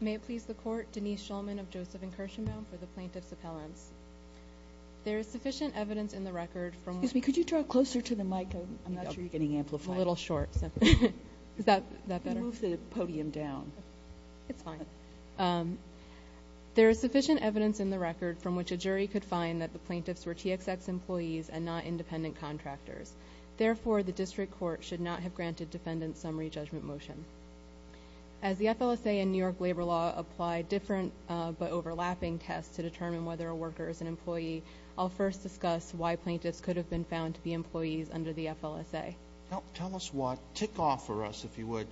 May it please the Court, Denise Schulman of Joseph and Kirshenbaum for the Plaintiff's Appellants. There is sufficient evidence in the record from which a jury could find that the plaintiffs were TXX employees and not independent contractors. Therefore, the District Court should not have granted defendants summary judgment motion. As the FLSA and New York Labor Law apply different but overlapping tests to determine whether a worker is an employee, I'll first discuss why plaintiffs could have been found to be employees under the FLSA. Tell us what ticked off for us, if you would,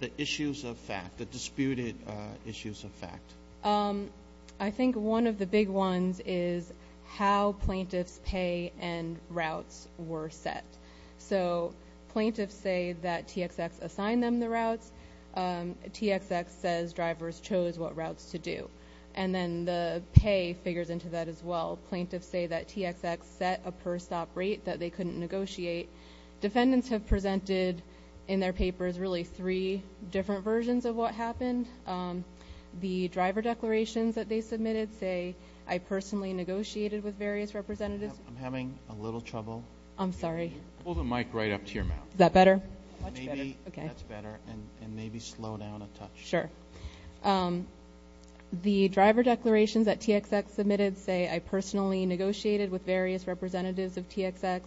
the issues of fact, the disputed issues of fact. I think one of the big ones is how plaintiffs' pay and routes were set. So plaintiffs say that TXX assigned them the routes. TXX says drivers chose what routes to do. And then the pay figures into that as well. Plaintiffs say that TXX set a per stop rate that they couldn't negotiate. Defendants have presented in their papers really three different versions of what happened. The driver declarations that they submitted say, I personally negotiated with various representatives. I'm having a little trouble. I'm sorry. Pull the mic right up to your mouth. Is that better? Much better. That's better. And maybe slow down a touch. Sure. The driver declarations that TXX submitted say, I personally negotiated with various representatives of TXX.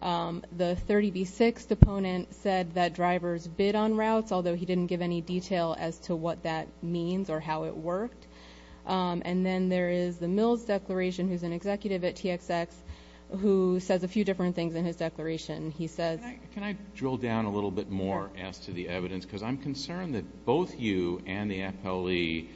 The 30B6 deponent said that drivers bid on routes, although he didn't give any detail as to what that means or how it worked. And then there is the Mills declaration, who's an executive at TXX, who says a few different things in his declaration. He says— Can I drill down a little bit more as to the evidence? Because I'm concerned that both you and the appellee,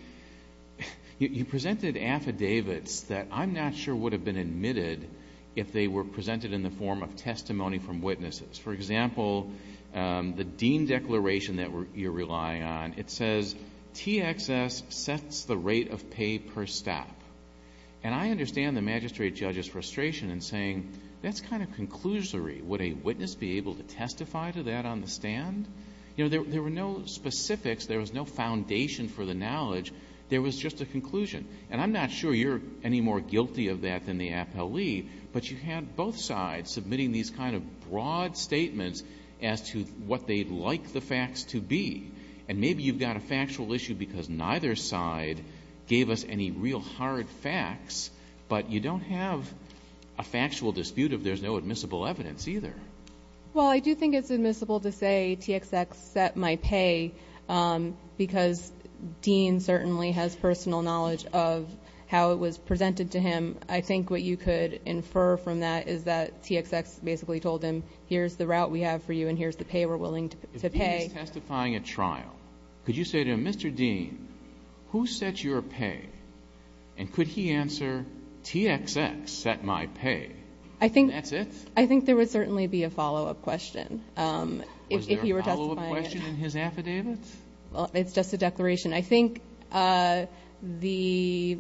you presented affidavits that I'm not sure would have been admitted if they were presented in the form of testimony from witnesses. For example, the Dean declaration that you're relying on, it says, TXX sets the rate of pay per stop. And I understand the magistrate judge's frustration in saying, that's kind of conclusory. Would a witness be able to testify to that on the stand? There were no specifics. There was no foundation for the knowledge. There was just a conclusion. And I'm not sure you're any more guilty of that than the appellee. But you had both sides submitting these kind of broad statements as to what they'd like the facts to be. And maybe you've got a factual issue because neither side gave us any real hard facts, but you don't have a factual dispute if there's no admissible evidence either. Well, I do think it's admissible to say TXX set my pay because Dean certainly has personal knowledge of how it was presented to him. I think what you could infer from that is that TXX basically told him, here's the route we have for you, and here's the pay we're willing to pay. If he was testifying at trial, could you say to him, Mr. Dean, who set your pay? And could he answer, TXX set my pay. And that's it? I think there would certainly be a follow-up question if he were testifying. Was there a follow-up question in his affidavit? It's just a declaration. I think the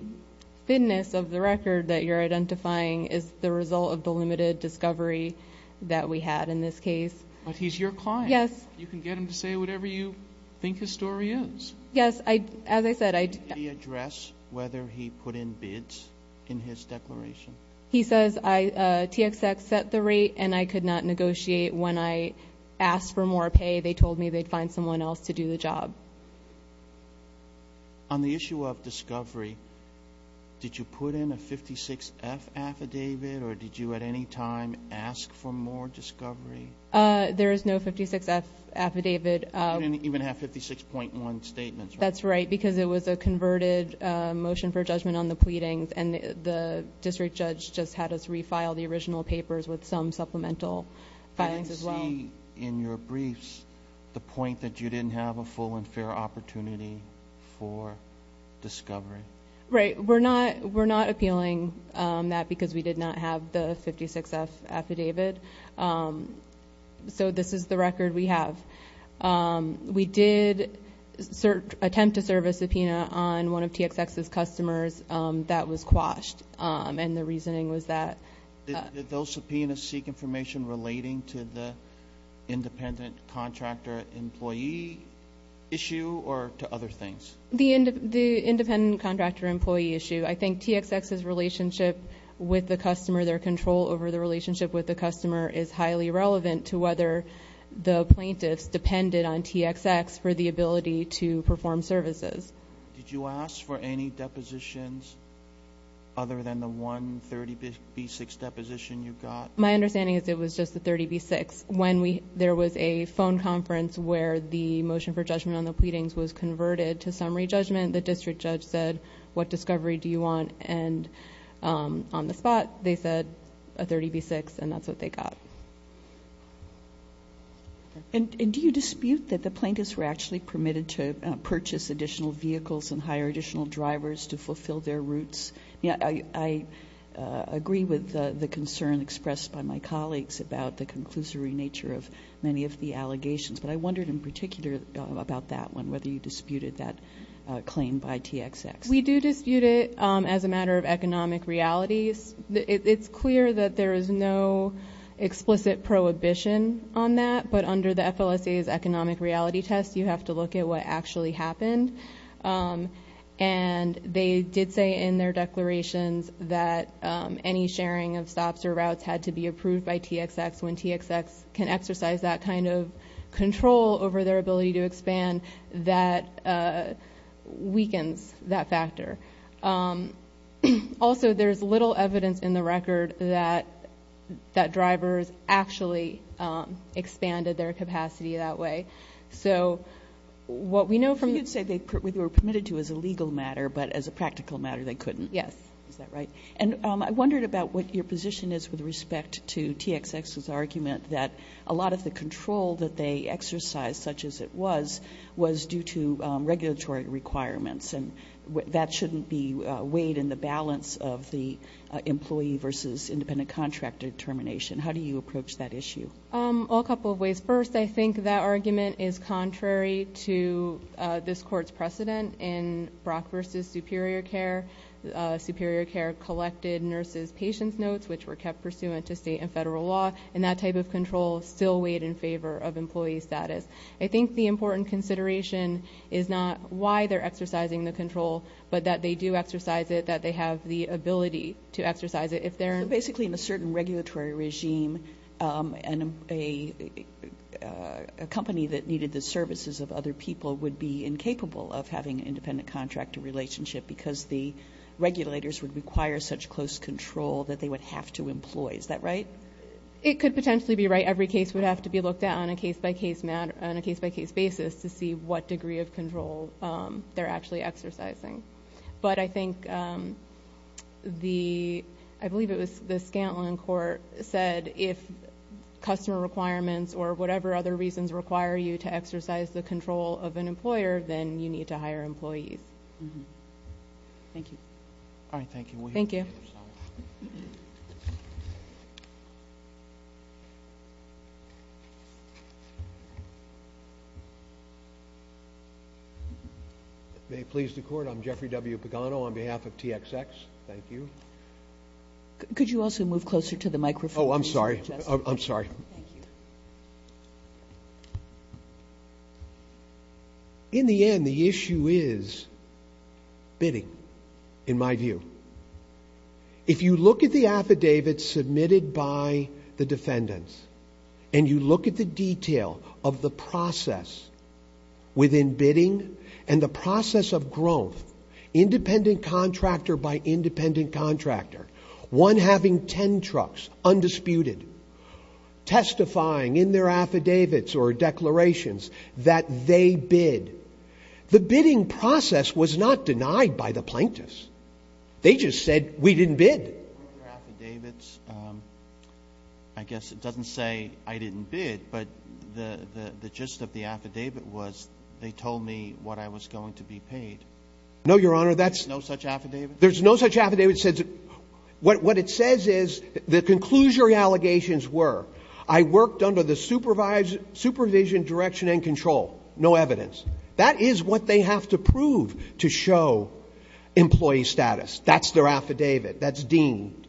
fitness of the record that you're identifying is the result of the limited discovery that we had in this case. But he's your client. Yes. You can get him to say whatever you think his story is. Yes. As I said, I did. Did he address whether he put in bids in his declaration? He says TXX set the rate and I could not negotiate. When I asked for more pay, they told me they'd find someone else to do the job. On the issue of discovery, did you put in a 56-F affidavit, or did you at any time ask for more discovery? There is no 56-F affidavit. You didn't even have 56.1 statements, right? That's right, because it was a converted motion for judgment on the pleadings, and the district judge just had us refile the original papers with some supplemental files as well. I didn't see in your briefs the point that you didn't have a full and fair opportunity for discovery. Right. We're not appealing that because we did not have the 56-F affidavit. So this is the record we have. We did attempt to serve a subpoena on one of TXX's customers that was quashed, and the reasoning was that. Did those subpoenas seek information relating to the independent contractor employee issue or to other things? The independent contractor employee issue. I think TXX's relationship with the customer, their control over the relationship with the customer, is highly relevant to whether the plaintiffs depended on TXX for the ability to perform services. Did you ask for any depositions other than the one 30B6 deposition you got? My understanding is it was just the 30B6. When there was a phone conference where the motion for judgment on the pleadings was converted to summary judgment, the district judge said, what discovery do you want? And on the spot, they said a 30B6, and that's what they got. And do you dispute that the plaintiffs were actually permitted to purchase additional vehicles and hire additional drivers to fulfill their routes? I agree with the concern expressed by my colleagues about the conclusory nature of many of the allegations, but I wondered in particular about that one, whether you disputed that claim by TXX. We do dispute it as a matter of economic realities. It's clear that there is no explicit prohibition on that, but under the FLSA's economic reality test, you have to look at what actually happened. And they did say in their declarations that any sharing of stops or routes had to be approved by TXX. When TXX can exercise that kind of control over their ability to expand, that weakens that factor. Also, there's little evidence in the record that drivers actually expanded their capacity that way. So what we know from the- So you'd say they were permitted to as a legal matter, but as a practical matter, they couldn't. Yes. Is that right? And I wondered about what your position is with respect to TXX's argument that a lot of the control that they exercise, such as it was, was due to regulatory requirements, and that shouldn't be weighed in the balance of the employee versus independent contractor determination. How do you approach that issue? Well, a couple of ways. First, I think that argument is contrary to this court's precedent in Brock versus Superior Care. Superior Care collected nurses' patients' notes, which were kept pursuant to state and federal law, and that type of control still weighed in favor of employee status. I think the important consideration is not why they're exercising the control, but that they do exercise it, that they have the ability to exercise it if they're- So basically, in a certain regulatory regime, a company that needed the services of other people would be incapable of having an independent contractor relationship because the regulators would require such close control that they would have to employ. Is that right? It could potentially be right. Every case would have to be looked at on a case-by-case basis to see what degree of control they're actually exercising. But I think the-I believe it was the Scantlin court said if customer requirements or whatever other reasons require you to exercise the control of an employer, then you need to hire employees. Thank you. All right. Thank you. Thank you. May it please the Court. I'm Jeffrey W. Pagano on behalf of TXX. Thank you. Could you also move closer to the microphone? Oh, I'm sorry. I'm sorry. Thank you. In the end, the issue is bidding, in my view. If you look at the affidavits submitted by the defendants and you look at the detail of the process within bidding and the process of growth, independent contractor by independent contractor, one having ten trucks undisputed, testifying in their affidavits or declarations that they bid, the bidding process was not denied by the plaintiffs. They just said, we didn't bid. Your affidavits, I guess it doesn't say I didn't bid, but the gist of the affidavit was they told me what I was going to be paid. No, Your Honor. No such affidavit? There's no such affidavit. What it says is the conclusory allegations were I worked under the supervision, direction, and control. No evidence. That is what they have to prove to show employee status. That's their affidavit. That's deemed.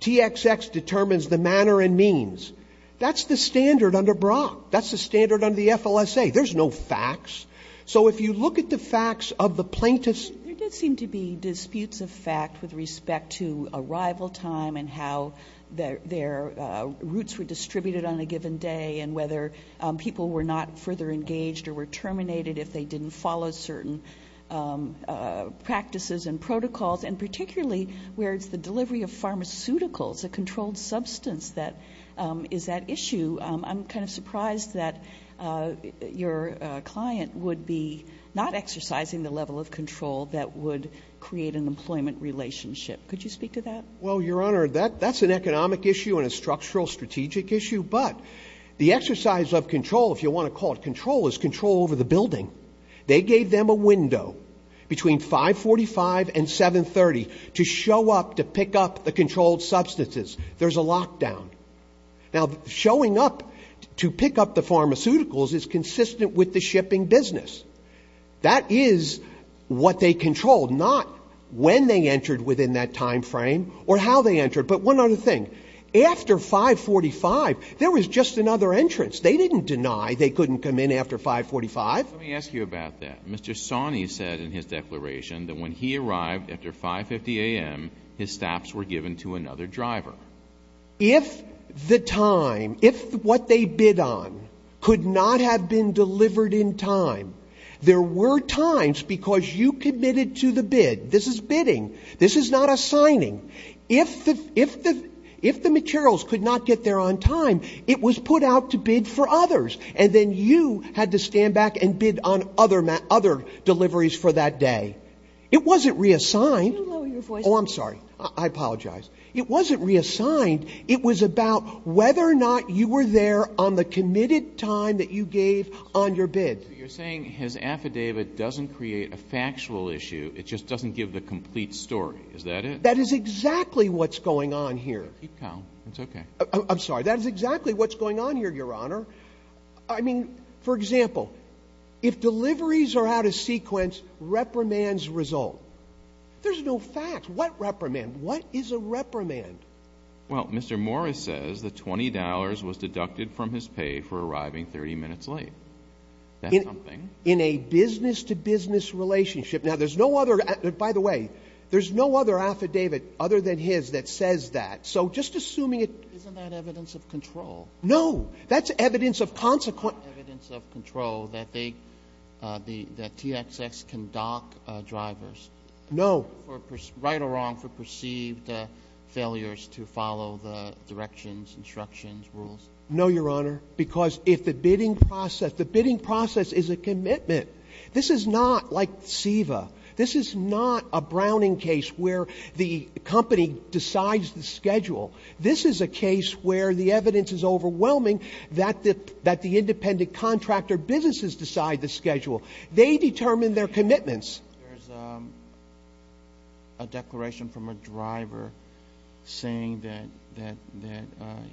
TXX determines the manner and means. That's the standard under Brock. That's the standard under the FLSA. There's no facts. So if you look at the facts of the plaintiffs. There did seem to be disputes of fact with respect to arrival time and how their routes were distributed on a given day and whether people were not further engaged or were terminated if they didn't follow certain practices and protocols, and particularly where it's the delivery of pharmaceuticals, a controlled substance, that is at issue. I'm kind of surprised that your client would be not exercising the level of control that would create an employment relationship. Could you speak to that? Well, Your Honor, that's an economic issue and a structural strategic issue, but the exercise of control, if you want to call it control, is control over the building. They gave them a window between 545 and 730 to show up to pick up the controlled substances. There's a lockdown. Now, showing up to pick up the pharmaceuticals is consistent with the shipping business. That is what they controlled, not when they entered within that time frame or how they entered. But one other thing. After 545, there was just another entrance. They didn't deny they couldn't come in after 545. Let me ask you about that. Mr. Sawney said in his declaration that when he arrived after 5.50 a.m., his staffs were given to another driver. If the time, if what they bid on could not have been delivered in time, there were times because you committed to the bid. This is bidding. This is not assigning. If the materials could not get there on time, it was put out to bid for others, and then you had to stand back and bid on other deliveries for that day. It wasn't reassigned. Could you lower your voice? Oh, I'm sorry. I apologize. It wasn't reassigned. It was about whether or not you were there on the committed time that you gave on your bid. So you're saying his affidavit doesn't create a factual issue. It just doesn't give the complete story. Is that it? That is exactly what's going on here. Keep calm. It's okay. I'm sorry. That is exactly what's going on here, Your Honor. I mean, for example, if deliveries are out of sequence, reprimands result. There's no facts. What reprimand? What is a reprimand? Well, Mr. Morris says the $20 was deducted from his pay for arriving 30 minutes late. That's something. In a business-to-business relationship. Now, there's no other, by the way, there's no other affidavit other than his that says that. So just assuming it. Isn't that evidence of control? No. That's evidence of consequence. Evidence of control that they, that TXX can dock drivers. No. Right or wrong for perceived failures to follow the directions, instructions, rules. This is not like SEVA. This is not a Browning case where the company decides the schedule. This is a case where the evidence is overwhelming that the independent contractor businesses decide the schedule. They determine their commitments. There's a declaration from a driver saying that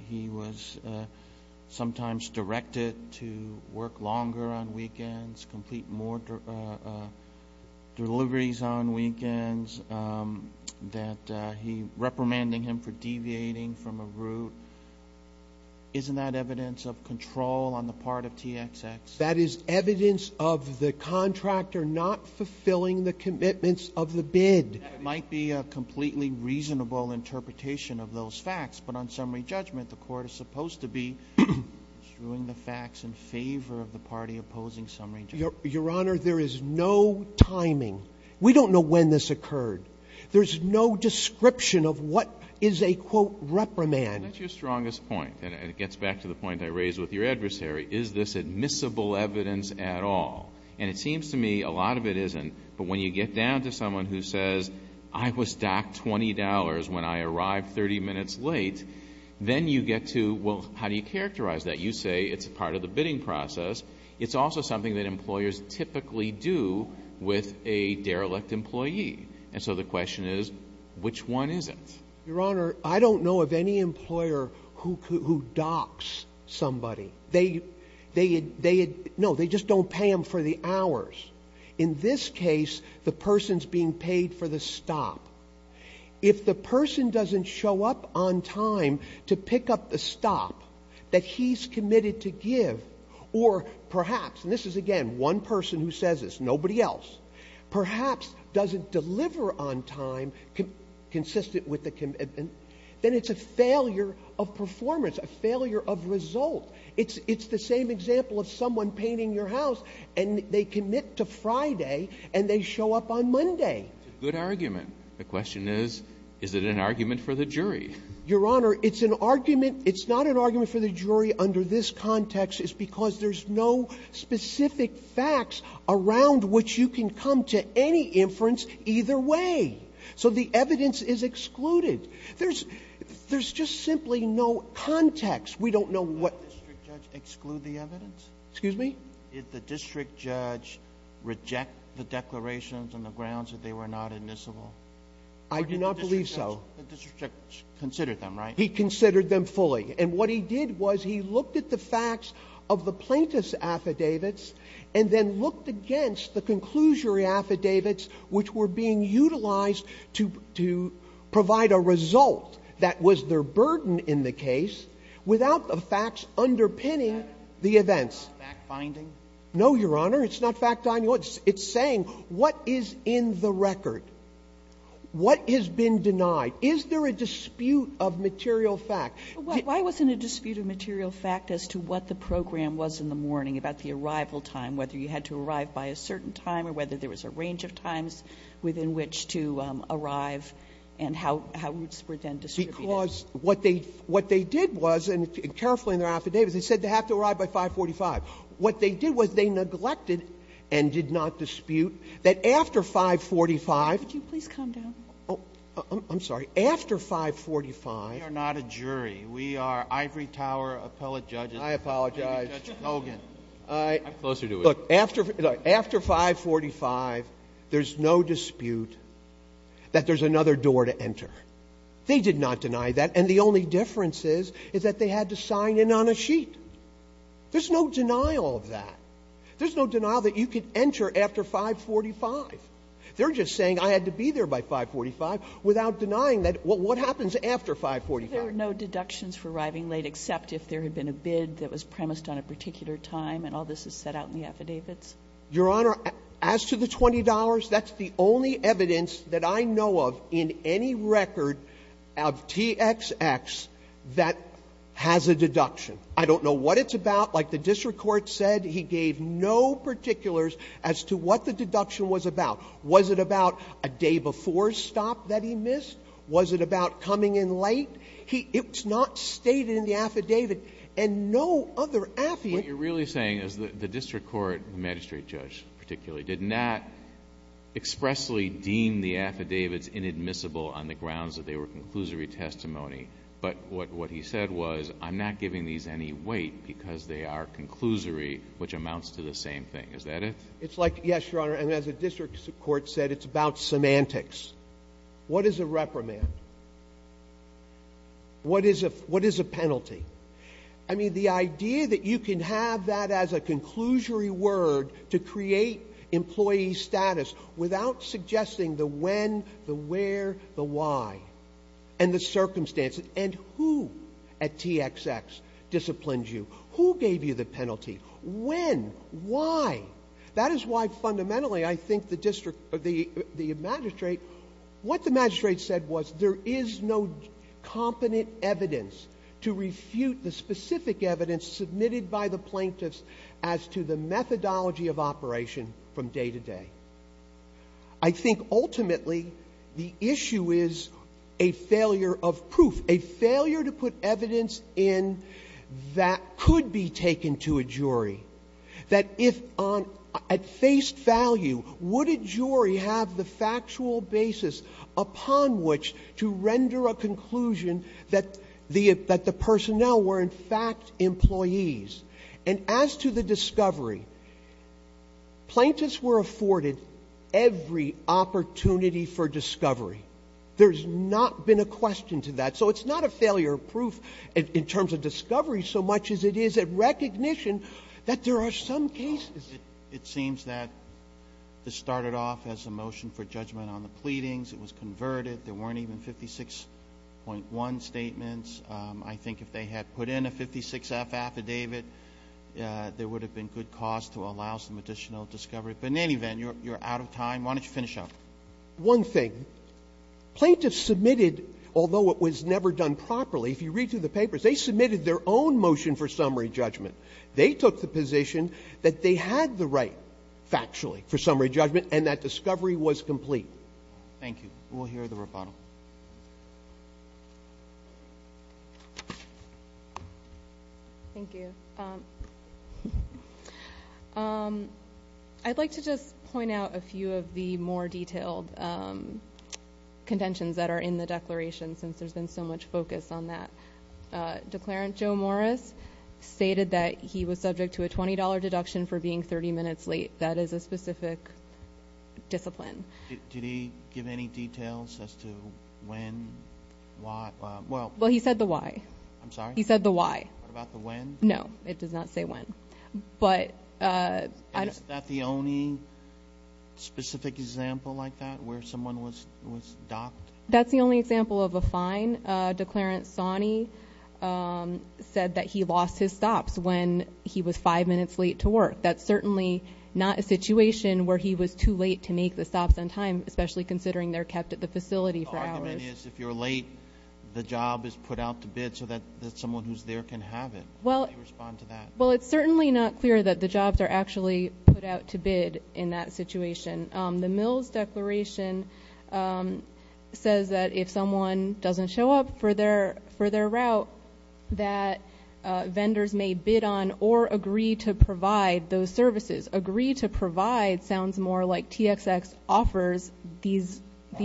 he was sometimes directed to work longer on weekends, complete more deliveries on weekends, that he, reprimanding him for deviating from a route. Isn't that evidence of control on the part of TXX? That is evidence of the contractor not fulfilling the commitments of the bid. That might be a completely reasonable interpretation of those facts. But on summary judgment, the Court is supposed to be strewing the facts in favor of the party opposing summary judgment. Your Honor, there is no timing. We don't know when this occurred. There's no description of what is a, quote, reprimand. That's your strongest point. And it gets back to the point I raised with your adversary. Is this admissible evidence at all? And it seems to me a lot of it isn't. But when you get down to someone who says, I was docked $20 when I arrived 30 minutes late, then you get to, well, how do you characterize that? You say it's part of the bidding process. It's also something that employers typically do with a derelict employee. And so the question is, which one is it? Your Honor, I don't know of any employer who docks somebody. They had no, they just don't pay them for the hours. In this case, the person's being paid for the stop. If the person doesn't show up on time to pick up the stop that he's committed to give, or perhaps, and this is, again, one person who says this, nobody else, perhaps doesn't deliver on time consistent with the commitment, then it's a failure of performance, a failure of result. It's the same example of someone painting your house, and they commit to Friday, and they show up on Monday. It's a good argument. The question is, is it an argument for the jury? Your Honor, it's an argument. It's not an argument for the jury under this context. It's because there's no specific facts around which you can come to any inference either way. So the evidence is excluded. There's just simply no context. We don't know what. The district judge exclude the evidence? Excuse me? Did the district judge reject the declarations on the grounds that they were not admissible? I do not believe so. The district judge considered them, right? He considered them fully. And what he did was he looked at the facts of the plaintiff's affidavits and then looked against the conclusory affidavits, which were being utilized to provide a result that was their burden in the case without the facts underpinning the events. Fact-finding? No, Your Honor. It's not fact-finding. It's saying what is in the record. What has been denied? Is there a dispute of material fact? Why wasn't a dispute of material fact as to what the program was in the morning about the arrival time, whether you had to arrive by a certain time or whether there was a range of times within which to arrive and how routes were then distributed? Because what they did was, and carefully in their affidavits, they said they have to arrive by 545. What they did was they neglected and did not dispute that after 545. Would you please calm down? I'm sorry. After 545. We are not a jury. We are ivory tower appellate judges. I apologize. Judge Hogan. I'm closer to it. Look, after 545, there's no dispute that there's another door to enter. They did not deny that, and the only difference is is that they had to sign in on a sheet. There's no denial of that. There's no denial that you could enter after 545. They're just saying I had to be there by 545 without denying that. What happens after 545? Were there no deductions for arriving late except if there had been a bid that was premised on a particular time and all this is set out in the affidavits? Your Honor, as to the $20, that's the only evidence that I know of in any record of TXX that has a deduction. I don't know what it's about. Like the district court said, he gave no particulars as to what the deduction was about. Was it about a day before stop that he missed? Was it about coming in late? It was not stated in the affidavit. And no other affidavit ---- What you're really saying is the district court, the magistrate judge particularly, did not expressly deem the affidavits inadmissible on the grounds that they were conclusory testimony, but what he said was I'm not giving these any weight because they are conclusory, which amounts to the same thing. Is that it? It's like, yes, Your Honor, and as the district court said, it's about semantics. What is a reprimand? What is a penalty? I mean, the idea that you can have that as a conclusory word to create employee status without suggesting the when, the where, the why, and the circumstances and who at TXX disciplined you, who gave you the penalty, when, why, that is why fundamentally I think the magistrate, what the magistrate said was there is no competent evidence to refute the specific evidence submitted by the plaintiffs as to the methodology of operation from day to day. I think ultimately the issue is a failure of proof, a failure to put evidence in that could be taken to a jury, that if at face value would a jury have the factual basis upon which to render a conclusion that the personnel were in fact employees. And as to the discovery, plaintiffs were afforded every opportunity for discovery. There's not been a question to that. So it's not a failure of proof in terms of discovery so much as it is a recognition that there are some cases. Roberts. It seems that this started off as a motion for judgment on the pleadings. It was converted. There weren't even 56.1 statements. I think if they had put in a 56F affidavit, there would have been good cause to allow some additional discovery. But in any event, you're out of time. Why don't you finish up? One thing. Plaintiffs submitted, although it was never done properly, if you read through the papers, they submitted their own motion for summary judgment. They took the position that they had the right factually for summary judgment and that discovery was complete. Thank you. We'll hear the rebuttal. Thank you. I'd like to just point out a few of the more detailed contentions that are in the declaration since there's been so much focus on that. Declarant Joe Morris stated that he was subject to a $20 deduction for being 30 minutes late. That is a specific discipline. Did he give any details as to when, why? Well, he said the why. I'm sorry? He said the why. What about the when? No, it does not say when. Is that the only specific example like that where someone was docked? That's the only example of a fine. Declarant Sonny said that he lost his stops when he was five minutes late to work. That's certainly not a situation where he was too late to make the stops on time, especially considering they're kept at the facility for hours. The argument is if you're late, the job is put out to bid so that someone who's there can have it. How do you respond to that? Well, it's certainly not clear that the jobs are actually put out to bid in that situation. The Mills Declaration says that if someone doesn't show up for their route, that vendors may bid on or agree to provide those services. Agree to provide sounds more like TXX offers these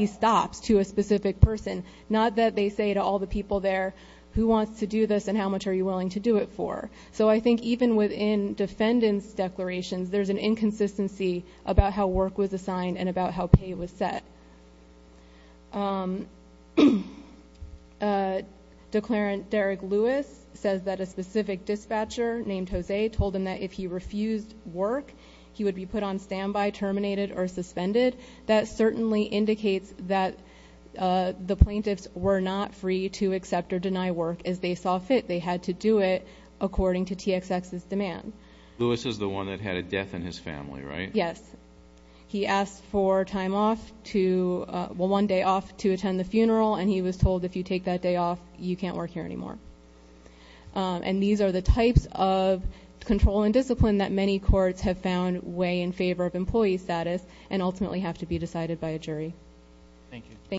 stops to a specific person, not that they say to all the people there, who wants to do this and how much are you willing to do it for? So I think even within defendant's declarations, there's an inconsistency about how work was assigned and about how pay was set. Declarant Derek Lewis says that a specific dispatcher named Jose told him that if he refused work, he would be put on standby, terminated, or suspended. That certainly indicates that the plaintiffs were not free to accept or deny work as they saw fit. They had to do it according to TXX's demand. Lewis is the one that had a death in his family, right? Yes. He asked for time off to one day off to attend the funeral, and he was told if you take that day off, you can't work here anymore. And these are the types of control and discipline that many courts have found way in favor of employee status and ultimately have to be decided by a jury. Thank you.